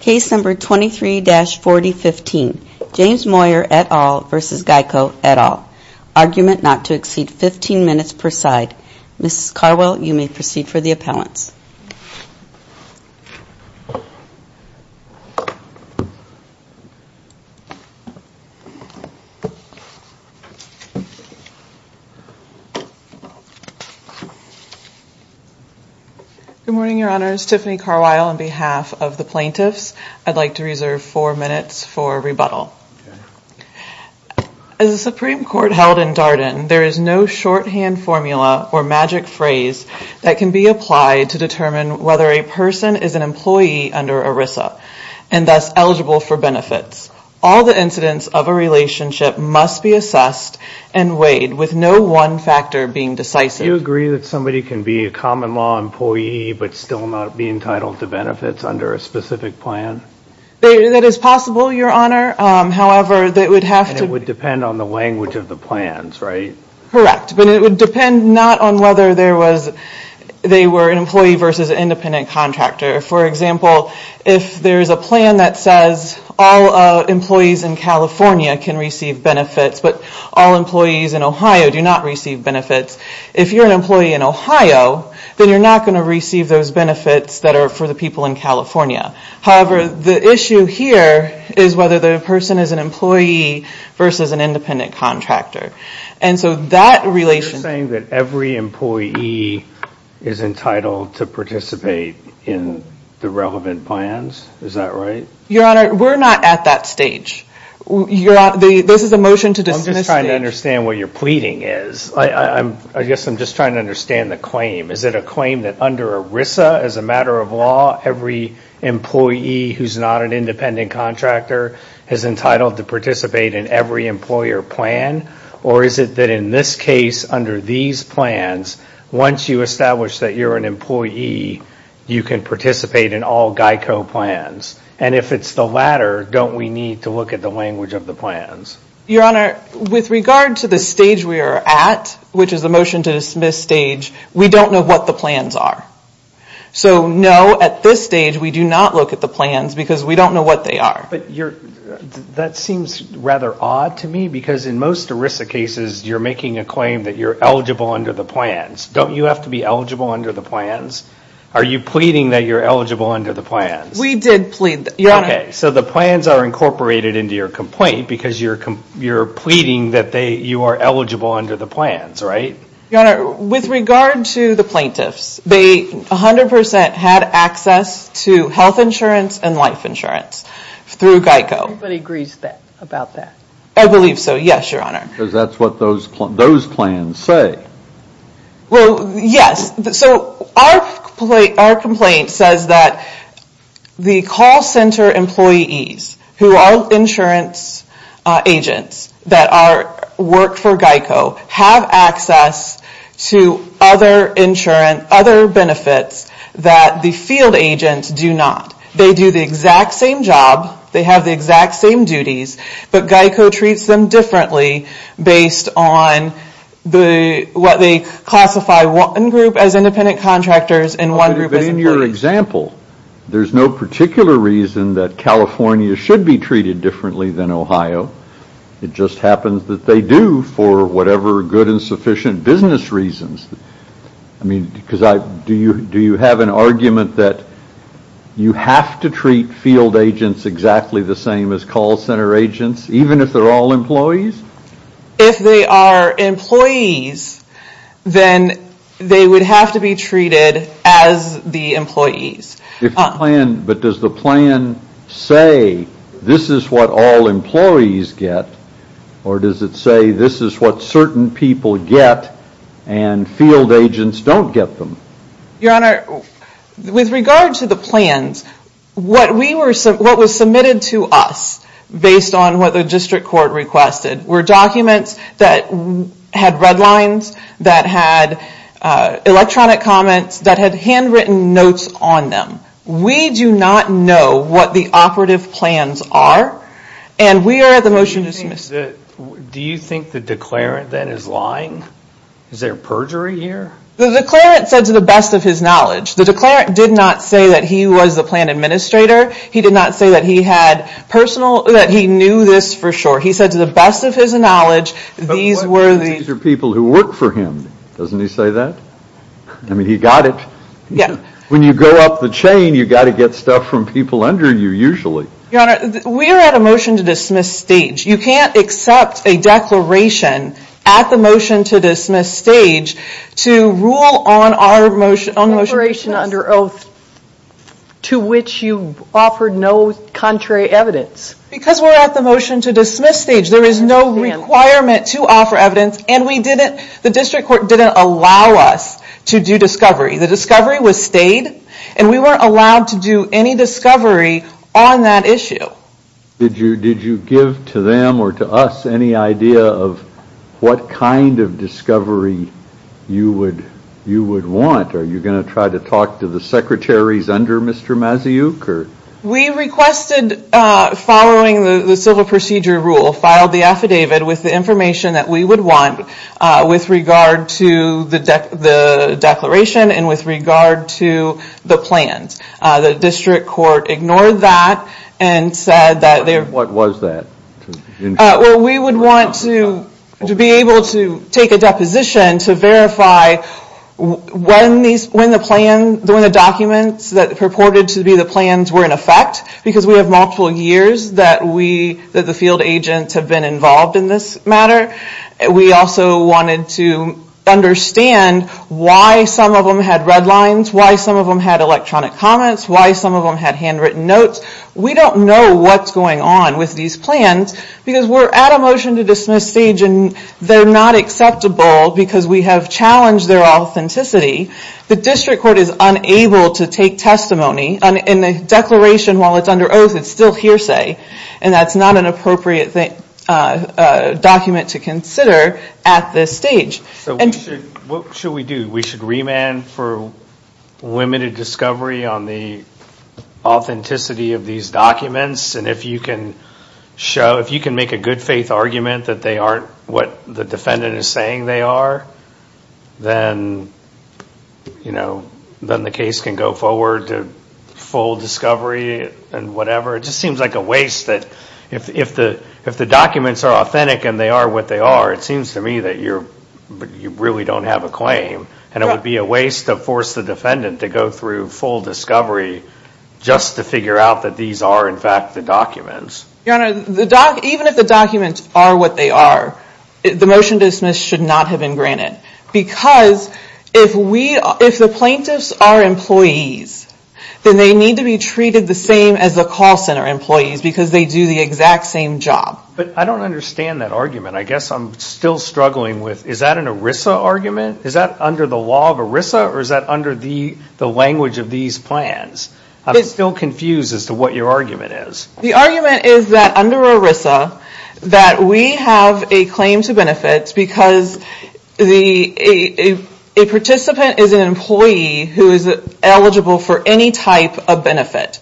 Case number 23-4015 James Moyer et al. v. GEICO et al. Argument not to exceed 15 minutes per side. Mrs. Carwile, you may proceed for the appellants. Good morning, Your Honors. Tiffany Carwile on behalf of the plaintiffs. I'd like to reserve four minutes for rebuttal. As the Supreme Court held in Darden, there is no shorthand formula or magic phrase that can be applied to determine whether a person is an employee under ERISA and thus eligible for benefits. All the incidents of a relationship must be assessed and weighed with no one factor being decisive. Do you agree that somebody can be a common law employee but still not be entitled to benefits under a specific plan? That is possible, Your Honor. However, it would have to be. And it would depend on the language of the plans, right? Correct. But it would depend not on whether they were an employee versus an independent contractor. For example, if there is a plan that says all employees in California can receive benefits but all employees in Ohio do not receive benefits, if you're an employee in Ohio, then you're not going to receive those benefits that are for the people in California. However, the issue here is whether the person is an employee versus an independent contractor. Are you saying that every employee is entitled to participate in the relevant plans? Is that right? Your Honor, we're not at that stage. This is a motion to dismiss the stage. I'm just trying to understand what you're pleading is. I guess I'm just trying to understand the claim. Is it a claim that under ERISA, as a matter of law, every employee who's not an independent contractor is entitled to participate in every employer plan? Or is it that in this case, under these plans, once you establish that you're an employee, you can participate in all GEICO plans? And if it's the latter, don't we need to look at the language of the plans? Your Honor, with regard to the stage we are at, which is the motion to dismiss stage, we don't know what the plans are. So, no, at this stage, we do not look at the plans because we don't know what they are. But that seems rather odd to me because in most ERISA cases, you're making a claim that you're eligible under the plans. Don't you have to be eligible under the plans? Are you pleading that you're eligible under the plans? We did plead, Your Honor. Okay, so the plans are incorporated into your complaint because you're pleading that you are eligible under the plans, right? Your Honor, with regard to the plaintiffs, they 100% had access to health insurance and life insurance through GEICO. Everybody agrees about that. I believe so, yes, Your Honor. Because that's what those plans say. Well, yes. So our complaint says that the call center employees, who are insurance agents that work for GEICO, have access to other insurance, other benefits that the field agents do not. They do the exact same job. They have the exact same duties. But GEICO treats them differently based on what they classify, one group as independent contractors and one group as employees. But in your example, there's no particular reason that California should be treated differently than Ohio. It just happens that they do for whatever good and sufficient business reasons. I mean, do you have an argument that you have to treat field agents exactly the same as call center agents, even if they're all employees? If they are employees, then they would have to be treated as the employees. But does the plan say this is what all employees get, or does it say this is what certain people get and field agents don't get them? Your Honor, with regard to the plans, what was submitted to us based on what the district court requested were documents that had red lines, that had electronic comments, that had handwritten notes on them. We do not know what the operative plans are, and we are at the motion to dismiss. Do you think the declarant then is lying? Is there perjury here? The declarant said to the best of his knowledge. The declarant did not say that he was the plan administrator. He did not say that he knew this for sure. He said to the best of his knowledge, these were the – But what if these are people who work for him? Doesn't he say that? I mean, he got it. When you go up the chain, you got to get stuff from people under you usually. Your Honor, we are at a motion to dismiss stage. You can't accept a declaration at the motion to dismiss stage to rule on our motion to dismiss. Declaration under oath to which you offered no contrary evidence. Because we're at the motion to dismiss stage. There is no requirement to offer evidence, and the district court didn't allow us to do discovery. The discovery was stayed, and we weren't allowed to do any discovery on that issue. Did you give to them or to us any idea of what kind of discovery you would want? Are you going to try to talk to the secretaries under Mr. Mazayook? We requested, following the civil procedure rule, filed the affidavit with the information that we would want with regard to the declaration and with regard to the plans. The district court ignored that and said that they're – What was that? Well, we would want to be able to take a deposition to verify when the documents that purported to be the plans were in effect, because we have multiple years that the field agents have been involved in this matter. We also wanted to understand why some of them had red lines, why some of them had electronic comments, why some of them had handwritten notes. We don't know what's going on with these plans because we're at a motion to dismiss stage, and they're not acceptable because we have challenged their authenticity. The district court is unable to take testimony. In the declaration, while it's under oath, it's still hearsay, and that's not an appropriate document to consider at this stage. So what should we do? We should remand for limited discovery on the authenticity of these documents, and if you can make a good-faith argument that they aren't what the defendant is saying they are, then the case can go forward to full discovery and whatever. It just seems like a waste that if the documents are authentic and they are what they are, it seems to me that you really don't have a claim, and it would be a waste to force the defendant to go through full discovery just to figure out that these are, in fact, the documents. Your Honor, even if the documents are what they are, the motion to dismiss should not have been granted because if the plaintiffs are employees, then they need to be treated the same as the call center employees because they do the exact same job. But I don't understand that argument. I guess I'm still struggling with is that an ERISA argument? Is that under the law of ERISA, or is that under the language of these plans? I'm still confused as to what your argument is. The argument is that under ERISA, that we have a claim to benefits because a participant is an employee who is eligible for any type of benefit.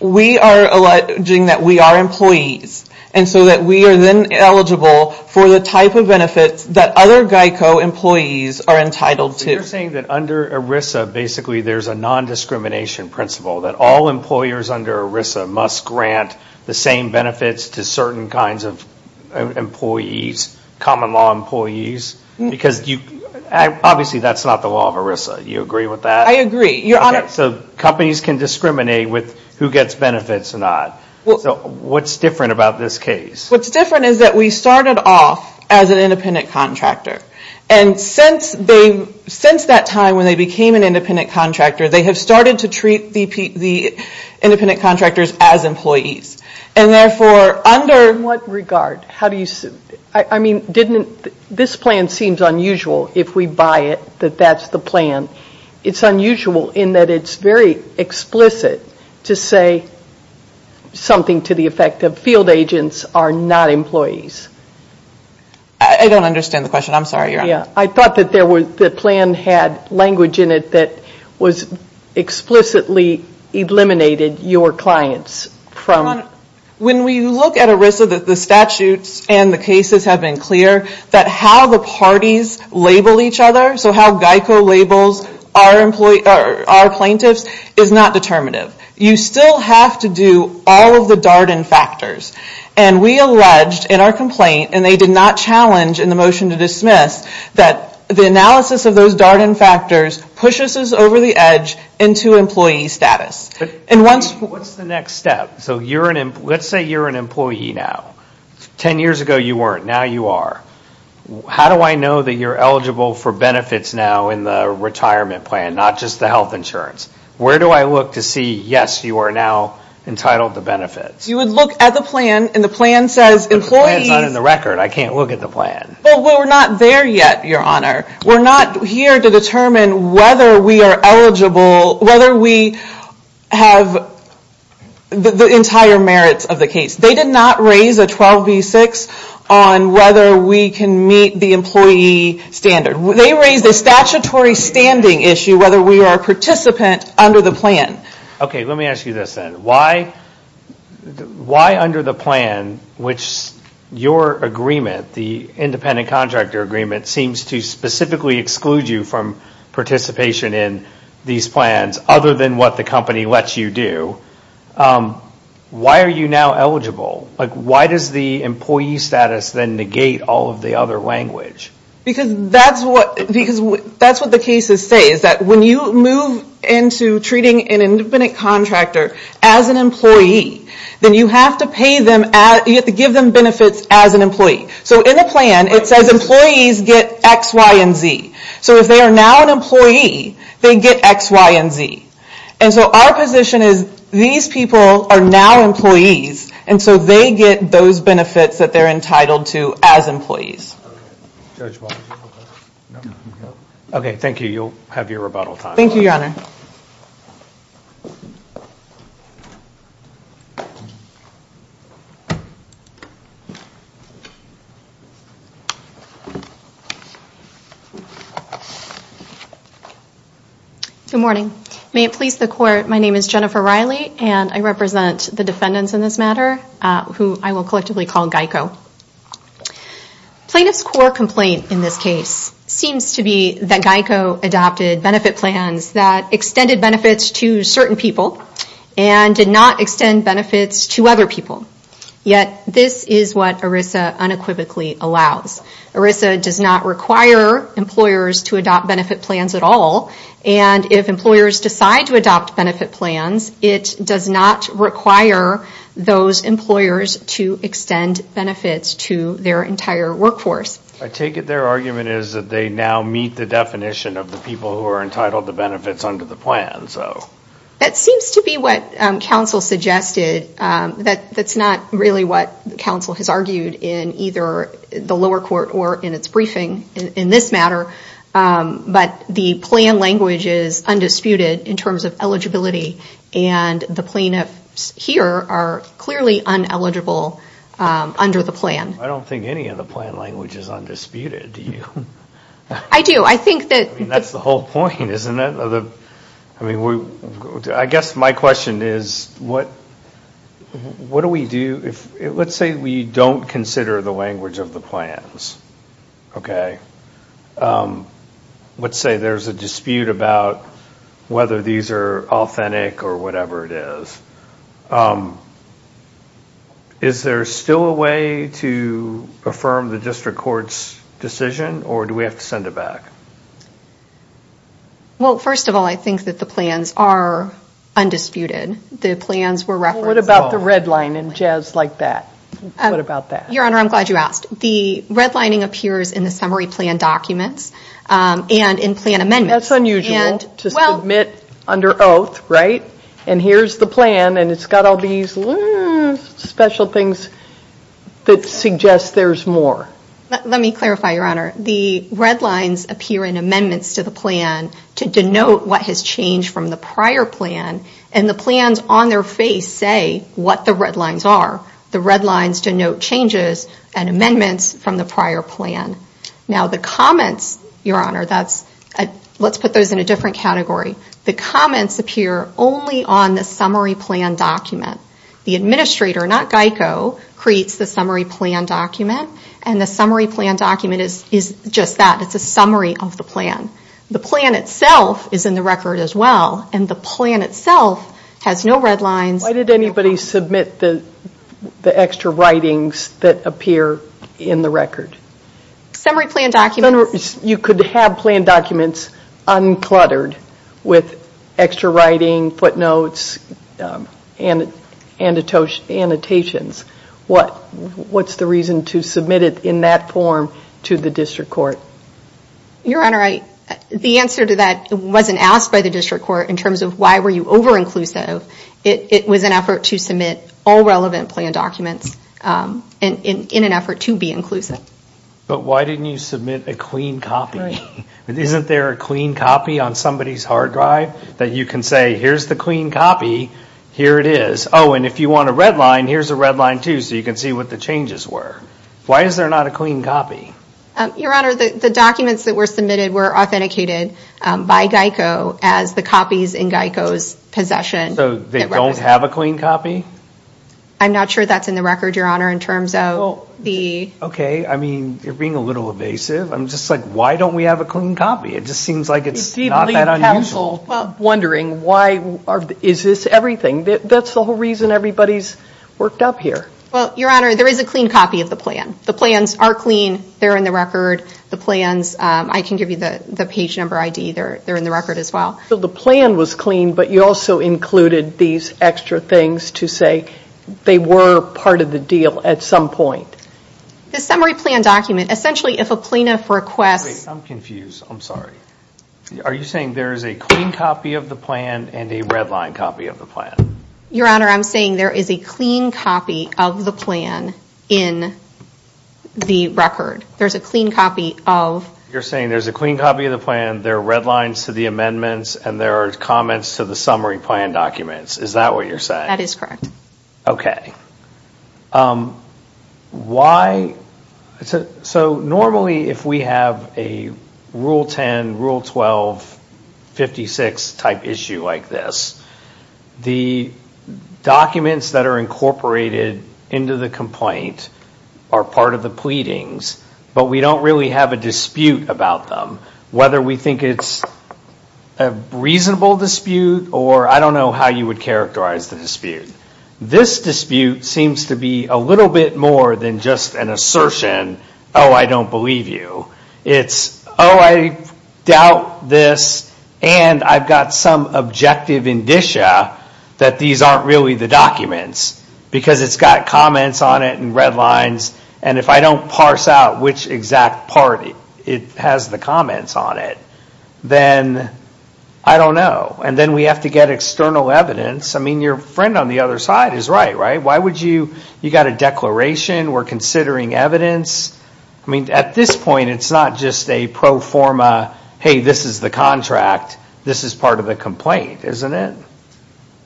We are alleging that we are employees, and so that we are then eligible for the type of benefits that other GEICO employees are entitled to. So you're saying that under ERISA, basically, there's a nondiscrimination principle that all employers under ERISA must grant the same benefits to certain kinds of employees, common law employees, because obviously that's not the law of ERISA. Do you agree with that? I agree. So companies can discriminate with who gets benefits and not. So what's different about this case? What's different is that we started off as an independent contractor, and since that time when they became an independent contractor, they have started to treat the independent contractors as employees. In what regard? This plan seems unusual, if we buy it, that that's the plan. It's unusual in that it's very explicit to say something to the effect of, field agents are not employees. I don't understand the question. I'm sorry, Your Honor. I thought that the plan had language in it that was explicitly eliminated your clients from. When we look at ERISA, the statutes and the cases have been clear that how the parties label each other, so how GEICO labels our plaintiffs, is not determinative. You still have to do all of the Darden factors, and we alleged in our complaint, and they did not challenge in the motion to dismiss, that the analysis of those Darden factors pushes us over the edge into employee status. What's the next step? So let's say you're an employee now. Ten years ago you weren't. Now you are. How do I know that you're eligible for benefits now in the retirement plan, not just the health insurance? Where do I look to see, yes, you are now entitled to benefits? You would look at the plan, and the plan says employees. The plan is not in the record. I can't look at the plan. Well, we're not there yet, Your Honor. We're not here to determine whether we are eligible, whether we have the entire merits of the case. They did not raise a 12B6 on whether we can meet the employee standard. They raised a statutory standing issue, whether we are a participant under the plan. Okay, let me ask you this then. Why under the plan, which your agreement, the independent contractor agreement, seems to specifically exclude you from participation in these plans, other than what the company lets you do, why are you now eligible? Like why does the employee status then negate all of the other language? Because that's what the cases say, is that when you move into treating an independent contractor as an employee, then you have to pay them, you have to give them benefits as an employee. So in the plan, it says employees get X, Y, and Z. So if they are now an employee, they get X, Y, and Z. And so our position is these people are now employees, and so they get those benefits that they're entitled to as employees. Okay, thank you. You'll have your rebuttal time. Thank you, Your Honor. Good morning. May it please the Court, my name is Jennifer Riley, and I represent the defendants in this matter, who I will collectively call GEICO. Plaintiff's core complaint in this case seems to be that GEICO adopted benefit plans that extended benefits to certain people and did not extend benefits to other people. Yet this is what ERISA unequivocally allows. ERISA does not require employers to adopt benefit plans at all, and if employers decide to adopt benefit plans, it does not require those employers to extend benefits to their entire workforce. I take it their argument is that they now meet the definition of the people who are entitled to benefits under the plan, so. That seems to be what counsel suggested. That's not really what counsel has argued in either the lower court or in its briefing in this matter. But the plan language is undisputed in terms of eligibility, and the plaintiffs here are clearly uneligible under the plan. I don't think any of the plan language is undisputed, do you? I do. I think that... I mean, that's the whole point, isn't it? I guess my question is, what do we do if... if we don't consider the language of the plans, okay? Let's say there's a dispute about whether these are authentic or whatever it is. Is there still a way to affirm the district court's decision, or do we have to send it back? Well, first of all, I think that the plans are undisputed. The plans were referenced. Well, what about the red line and jazz like that? What about that? Your Honor, I'm glad you asked. The red lining appears in the summary plan documents and in plan amendments. That's unusual to submit under oath, right? And here's the plan, and it's got all these special things that suggest there's more. Let me clarify, Your Honor. The red lines appear in amendments to the plan to denote what has changed from the prior plan, and the plans on their face say what the red lines are. The red lines denote changes and amendments from the prior plan. Now, the comments, Your Honor, let's put those in a different category. The comments appear only on the summary plan document. The administrator, not GEICO, creates the summary plan document, and the summary plan document is just that. It's a summary of the plan. The plan itself is in the record as well, and the plan itself has no red lines. Why did anybody submit the extra writings that appear in the record? Summary plan documents. You could have plan documents uncluttered with extra writing, footnotes, and annotations. What's the reason to submit it in that form to the district court? Your Honor, the answer to that wasn't asked by the district court in terms of why were you over-inclusive. It was an effort to submit all relevant plan documents in an effort to be inclusive. But why didn't you submit a clean copy? Isn't there a clean copy on somebody's hard drive that you can say, here's the clean copy, here it is? Oh, and if you want a red line, here's a red line, too, so you can see what the changes were. Why is there not a clean copy? Your Honor, the documents that were submitted were authenticated by GEICO as the copies in GEICO's possession. So they don't have a clean copy? I'm not sure that's in the record, Your Honor, in terms of the ‑‑ Okay, I mean, you're being a little evasive. I'm just like, why don't we have a clean copy? It just seems like it's not that unusual. I can't help but wonder, is this everything? That's the whole reason everybody's worked up here. Well, Your Honor, there is a clean copy of the plan. The plans are clean. They're in the record. The plans, I can give you the page number ID. They're in the record as well. So the plan was clean, but you also included these extra things to say they were part of the deal at some point? The summary plan document, essentially, if a plaintiff requests ‑‑ Wait, I'm confused. I'm sorry. Are you saying there is a clean copy of the plan and a red line copy of the plan? Your Honor, I'm saying there is a clean copy of the plan in the record. There's a clean copy of ‑‑ You're saying there's a clean copy of the plan, there are red lines to the amendments, and there are comments to the summary plan documents. Is that what you're saying? That is correct. Okay. Why? So normally if we have a Rule 10, Rule 12, 56 type issue like this, the documents that are incorporated into the complaint are part of the pleadings, but we don't really have a dispute about them, whether we think it's a reasonable dispute or I don't know how you would characterize the dispute. This dispute seems to be a little bit more than just an assertion, oh, I don't believe you. It's, oh, I doubt this, and I've got some objective indicia that these aren't really the documents because it's got comments on it and red lines, and if I don't parse out which exact part it has the comments on it, then I don't know. And then we have to get external evidence. I mean, your friend on the other side is right, right? You've got a declaration. We're considering evidence. I mean, at this point, it's not just a pro forma, hey, this is the contract. This is part of the complaint, isn't it?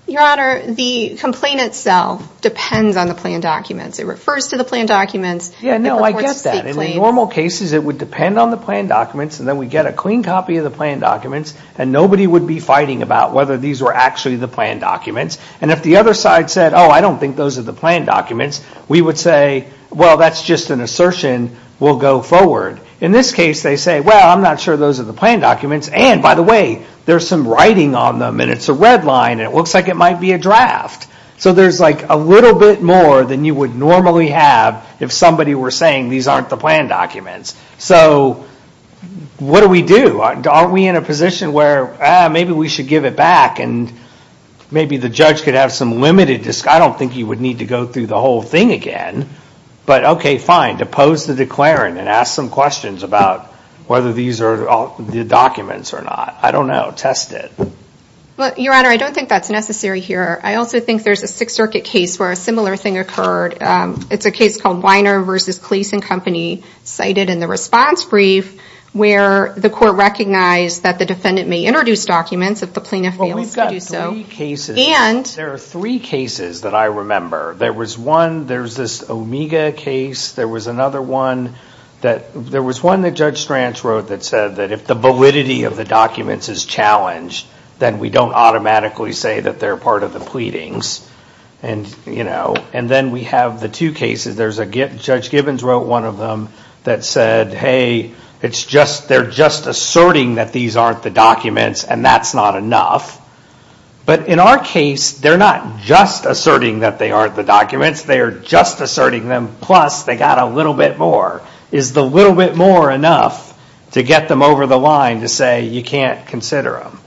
Your Honor, the complaint itself depends on the plan documents. It refers to the plan documents. Yeah, no, I get that. In normal cases, it would depend on the plan documents, and then we'd get a clean copy of the plan documents, and nobody would be fighting about whether these were actually the plan documents, and if the other side said, oh, I don't think those are the plan documents, we would say, well, that's just an assertion. We'll go forward. In this case, they say, well, I'm not sure those are the plan documents, and, by the way, there's some writing on them, and it's a red line, and it looks like it might be a draft. So there's, like, a little bit more than you would normally have if somebody were saying these aren't the plan documents. So what do we do? Aren't we in a position where maybe we should give it back and maybe the judge could have some limited discussion? I don't think he would need to go through the whole thing again. But, okay, fine, to pose the declaring and ask some questions about whether these are the documents or not. I don't know. Test it. Well, Your Honor, I don't think that's necessary here. I also think there's a Sixth Circuit case where a similar thing occurred. It's a case called Weiner v. Cleese & Company, cited in the response brief, where the court recognized that the defendant may introduce documents if the plaintiff fails to do so. Well, we've got three cases. There are three cases that I remember. There was one. There's this Omega case. There was another one that Judge Stranch wrote that said that if the validity of the documents is challenged, then we don't automatically say that they're part of the pleadings. And then we have the two cases. Judge Gibbons wrote one of them that said, hey, they're just asserting that these aren't the documents, and that's not enough. But in our case, they're not just asserting that they aren't the documents. They are just asserting them, plus they got a little bit more. Is the little bit more enough to get them over the line to say, you can't consider them?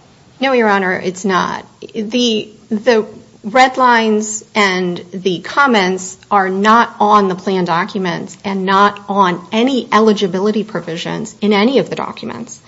No, Your Honor, it's not. The red lines and the comments are not on the plan documents and not on any eligibility provisions in any of the documents.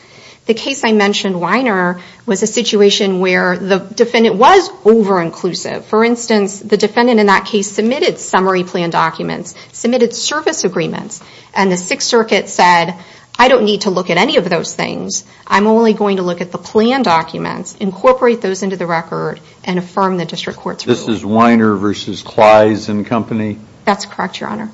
The case I mentioned, Weiner, was a situation where the defendant was over-inclusive. For instance, the defendant in that case submitted summary plan documents, submitted service agreements, and the Sixth Circuit said, I don't need to look at any of those things. I'm only going to look at the plan documents, incorporate those into the record, and affirm the district court's rule. This is Weiner versus Kleis and company? That's correct, Your Honor.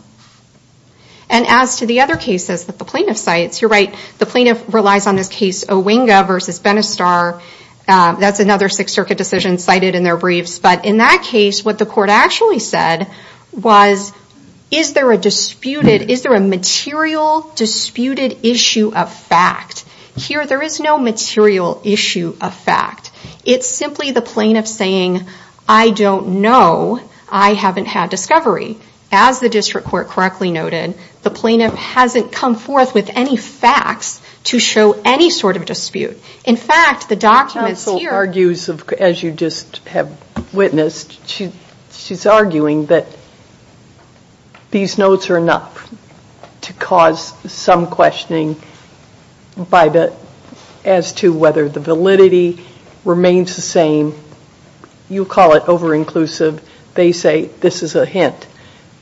And as to the other cases that the plaintiff cites, you're right, the plaintiff relies on this case Owinga versus Benistar. That's another Sixth Circuit decision cited in their briefs. But in that case, what the court actually said was, is there a disputed, is there a material disputed issue of fact? Here, there is no material issue of fact. It's simply the plaintiff saying, I don't know. I haven't had discovery. As the district court correctly noted, the plaintiff hasn't come forth with any facts to show any sort of dispute. In fact, the documents here... The counsel argues, as you just have witnessed, she's arguing that these notes are enough to cause some questioning as to whether the validity remains the same. You call it over-inclusive. They say this is a hint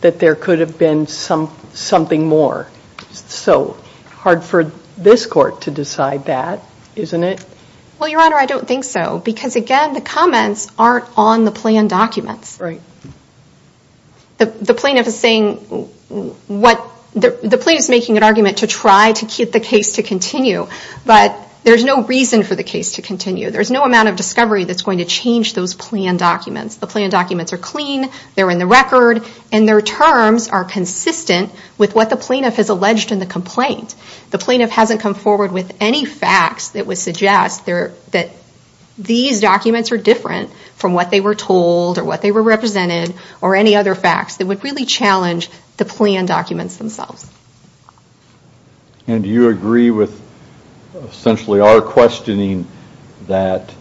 that there could have been something more. So, hard for this court to decide that, isn't it? Well, Your Honor, I don't think so. Because again, the comments aren't on the plan documents. Right. The plaintiff is saying... The plaintiff is making an argument to try to get the case to continue. But there's no reason for the case to continue. There's no amount of discovery that's going to change those plan documents. The plan documents are clean. They're in the record. And their terms are consistent with what the plaintiff has alleged in the complaint. The plaintiff hasn't come forward with any facts that would suggest that these documents are different from what they were told or what they were represented or any other facts that would really challenge the plan documents themselves. And do you agree with essentially our questioning that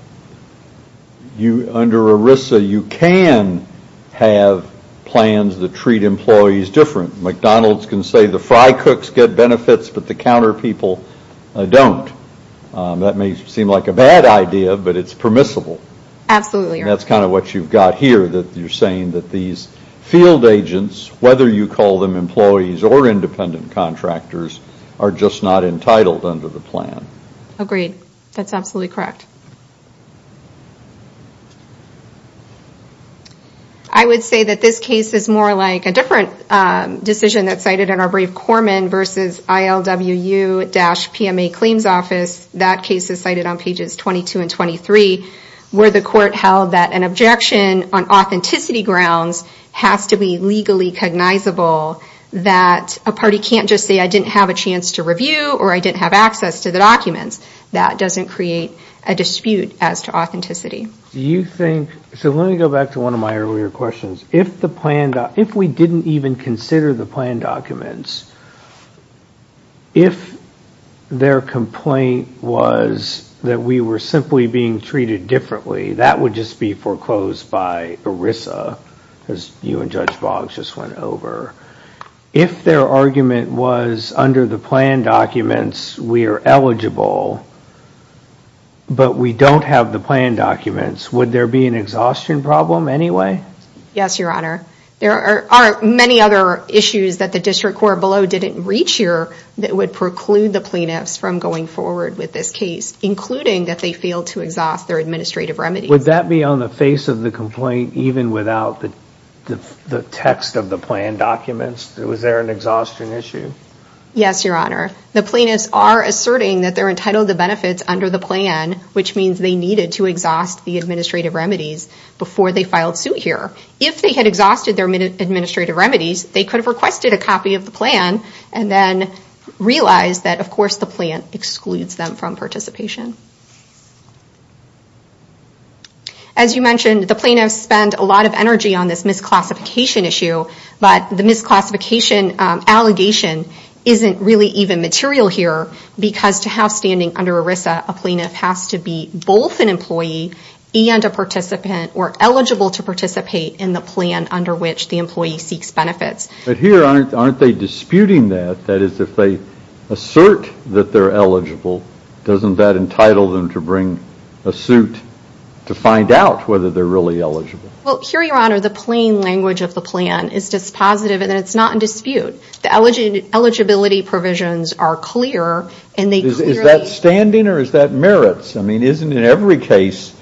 under ERISA you can have plans that treat employees different? McDonald's can say the fry cooks get benefits, but the counter people don't. That may seem like a bad idea, but it's permissible. Absolutely, Your Honor. And that's kind of what you've got here, that you're saying that these field agents, whether you call them employees or independent contractors, are just not entitled under the plan. Agreed. That's absolutely correct. I would say that this case is more like a different decision that's cited in our brave corpsman versus ILWU-PMA claims office. That case is cited on pages 22 and 23 where the court held that an objection on authenticity grounds has to be legally cognizable, that a party can't just say I didn't have a chance to review or I didn't have access to the documents. That doesn't create a dispute as to authenticity. So let me go back to one of my earlier questions. If we didn't even consider the plan documents, if their complaint was that we were simply being treated differently, that would just be foreclosed by ERISA, as you and Judge Boggs just went over. If their argument was under the plan documents, we are eligible, but we don't have the plan documents, would there be an exhaustion problem anyway? Yes, Your Honor. There are many other issues that the district court below didn't reach here that would preclude the plaintiffs from going forward with this case, including that they failed to exhaust their administrative remedies. Would that be on the face of the complaint even without the text of the plan documents? Was there an exhaustion issue? Yes, Your Honor. The plaintiffs are asserting that they're entitled to benefits under the plan, which means they needed to exhaust the administrative remedies before they filed suit here. If they had exhausted their administrative remedies, they could have requested a copy of the plan and then realized that, of course, the plan excludes them from participation. As you mentioned, the plaintiffs spend a lot of energy on this misclassification issue, but the misclassification allegation isn't really even material here because to have standing under ERISA, a plaintiff has to be both an employee and a participant or eligible to participate in the plan under which the employee seeks benefits. But here, aren't they disputing that? That is, if they assert that they're eligible, doesn't that entitle them to bring a suit to find out whether they're really eligible? Well, here, Your Honor, the plain language of the plan is dispositive and it's not in dispute. The eligibility provisions are clear and they clearly… Is that standing or is that merits? I mean, isn't in every case,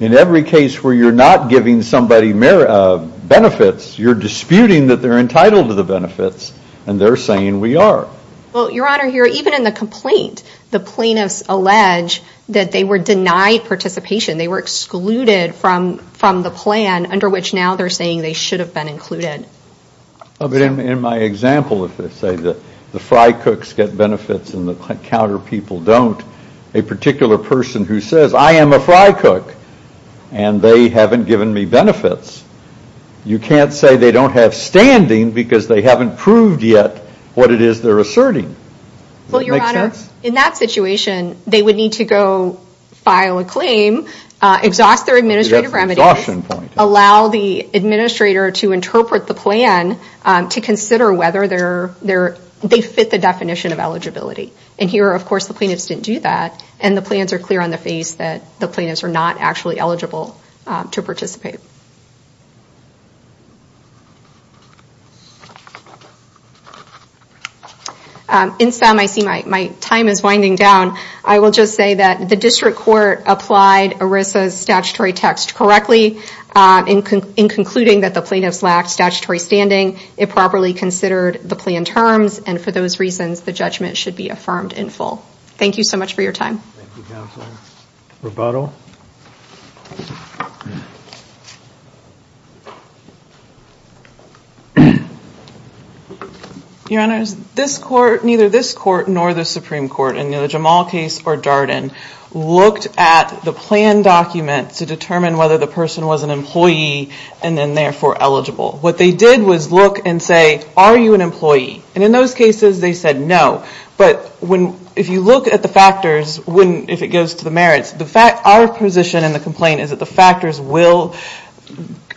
in every case where you're not giving somebody benefits, you're disputing that they're entitled to the benefits and they're saying we are. Well, Your Honor, even in the complaint, the plaintiffs allege that they were denied participation. They were excluded from the plan under which now they're saying they should have been included. In my example, if I say that the fry cooks get benefits and the counter people don't, a particular person who says I am a fry cook and they haven't given me benefits, you can't say they don't have standing because they haven't proved yet what it is they're asserting. Does that make sense? Well, Your Honor, in that situation, they would need to go file a claim, exhaust their administrative remedies, allow the administrator to interpret the plan to consider whether they fit the definition of eligibility. And here, of course, the plaintiffs didn't do that and the plans are clear on the face that the plaintiffs are not actually eligible to participate. In sum, I see my time is winding down. I will just say that the district court applied ERISA's statutory text correctly in concluding that the plaintiffs lacked statutory standing. It properly considered the plan terms and for those reasons, the judgment should be affirmed in full. Thank you so much for your time. Thank you, Counsel. Roboto. Your Honors, neither this court nor the Supreme Court in the Jamal case or Darden looked at the plan document to determine whether the person was an employee and then therefore eligible. What they did was look and say, are you an employee? And in those cases, they said no. But if you look at the factors, if it goes to the merits, our position in the complaint is that the factors will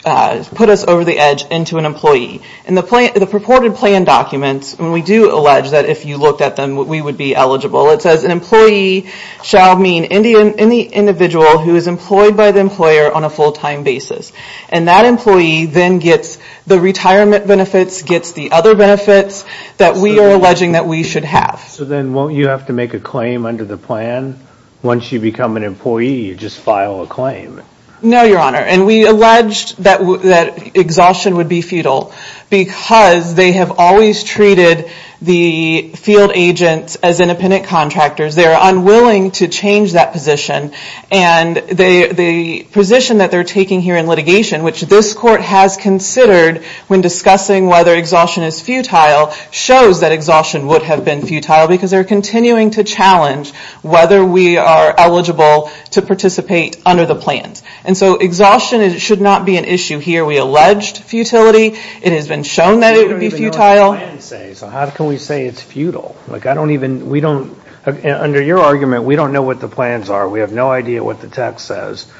put us over the edge into an employee. In the purported plan documents, we do allege that if you looked at them, we would be eligible. It says, an employee shall mean any individual who is employed by the employer on a full-time basis. And that employee then gets the retirement benefits, gets the other benefits that we are alleging that we should have. So then won't you have to make a claim under the plan? Once you become an employee, you just file a claim. No, Your Honor. And we alleged that exhaustion would be futile because they have always treated the field agents as independent contractors. They are unwilling to change that position. And the position that they're taking here in litigation, which this court has considered when discussing whether exhaustion is futile, shows that exhaustion would have been futile because they're continuing to challenge whether we are eligible to participate under the plans. And so exhaustion should not be an issue here. We alleged futility. It has been shown that it would be futile. We don't even know what the plans say, so how can we say it's futile? Like I don't even, we don't, under your argument, we don't know what the plans are. We have no idea what the text says.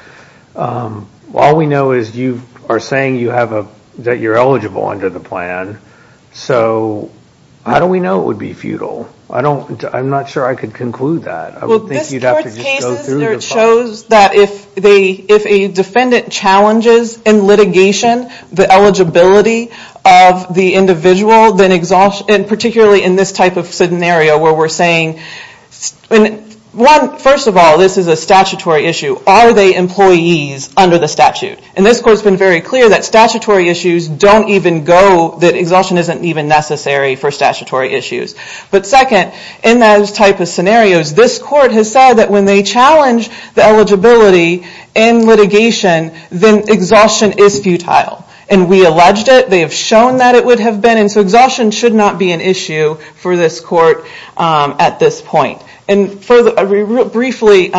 All we know is you are saying you have a, that you're eligible under the plan. So how do we know it would be futile? I don't, I'm not sure I could conclude that. I would think you'd have to just go through the file. Well, this court's cases shows that if they, if a defendant challenges in litigation the eligibility of the individual, then exhaustion, and particularly in this type of scenario where we're saying, and one, first of all, this is a statutory issue. Are they employees under the statute? And this court's been very clear that statutory issues don't even go, that exhaustion isn't even necessary for statutory issues. But second, in those type of scenarios, this court has said that when they challenge the eligibility in litigation, then exhaustion is futile. And we alleged it. They have shown that it would have been, and so exhaustion should not be an issue for this court at this point. And further, briefly,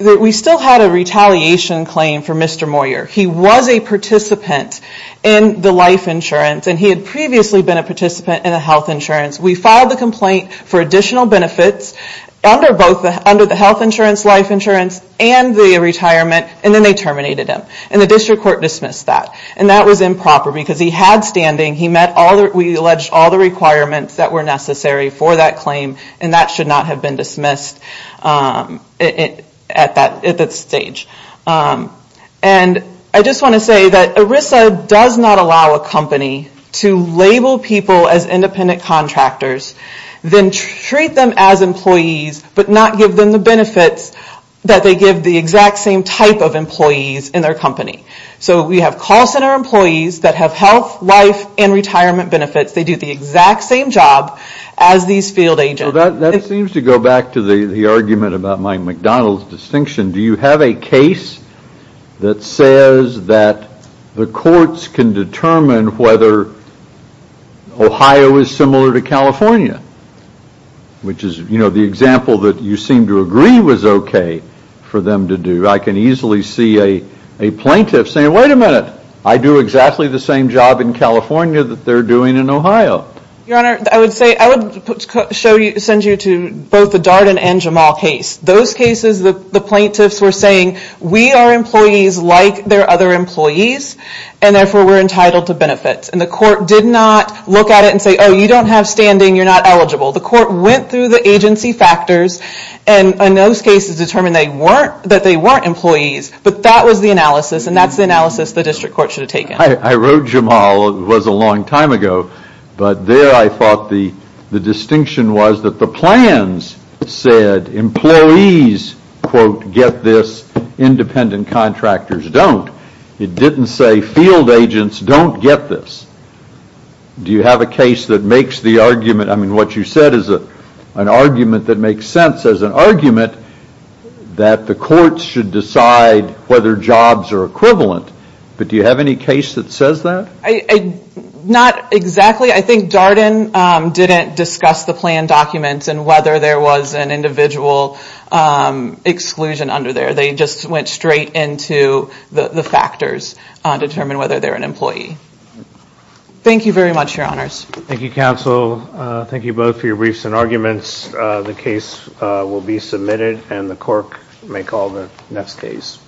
we still had a retaliation claim for Mr. Moyer. He was a participant in the life insurance, and he had previously been a participant in the health insurance. We filed the complaint for additional benefits under the health insurance, life insurance, and the retirement, and then they terminated him. And the district court dismissed that. And that was improper because he had standing. He met all the, we alleged all the requirements that were necessary for that claim, and that should not have been dismissed at that stage. And I just want to say that ERISA does not allow a company to label people as independent contractors, then treat them as employees, but not give them the benefits that they give the exact same type of employees in their company. So we have call center employees that have health, life, and retirement benefits. They do the exact same job as these field agents. That seems to go back to the argument about my McDonald's distinction. Do you have a case that says that the courts can determine whether Ohio is similar to California? Which is, you know, the example that you seem to agree was okay for them to do. I can easily see a plaintiff saying, wait a minute, I do exactly the same job in California that they're doing in Ohio. Your Honor, I would say, I would send you to both the Darden and Jamal case. Those cases, the plaintiffs were saying, we are employees like their other employees, and therefore we're entitled to benefits. And the court did not look at it and say, oh, you don't have standing, you're not eligible. The court went through the agency factors, and in those cases determined that they weren't employees, but that was the analysis, and that's the analysis the district court should have taken. I wrote Jamal, it was a long time ago, but there I thought the distinction was that the plans said employees, quote, get this, independent contractors don't. It didn't say field agents don't get this. Do you have a case that makes the argument, I mean, what you said is an argument that makes sense as an argument that the courts should decide whether jobs are equivalent, but do you have any case that says that? Not exactly. I think Darden didn't discuss the plan documents and whether there was an individual exclusion under there. They just went straight into the factors to determine whether they're an employee. Thank you very much, Your Honors. Thank you, counsel. Thank you both for your briefs and arguments. The case will be submitted, and the court may call the next case.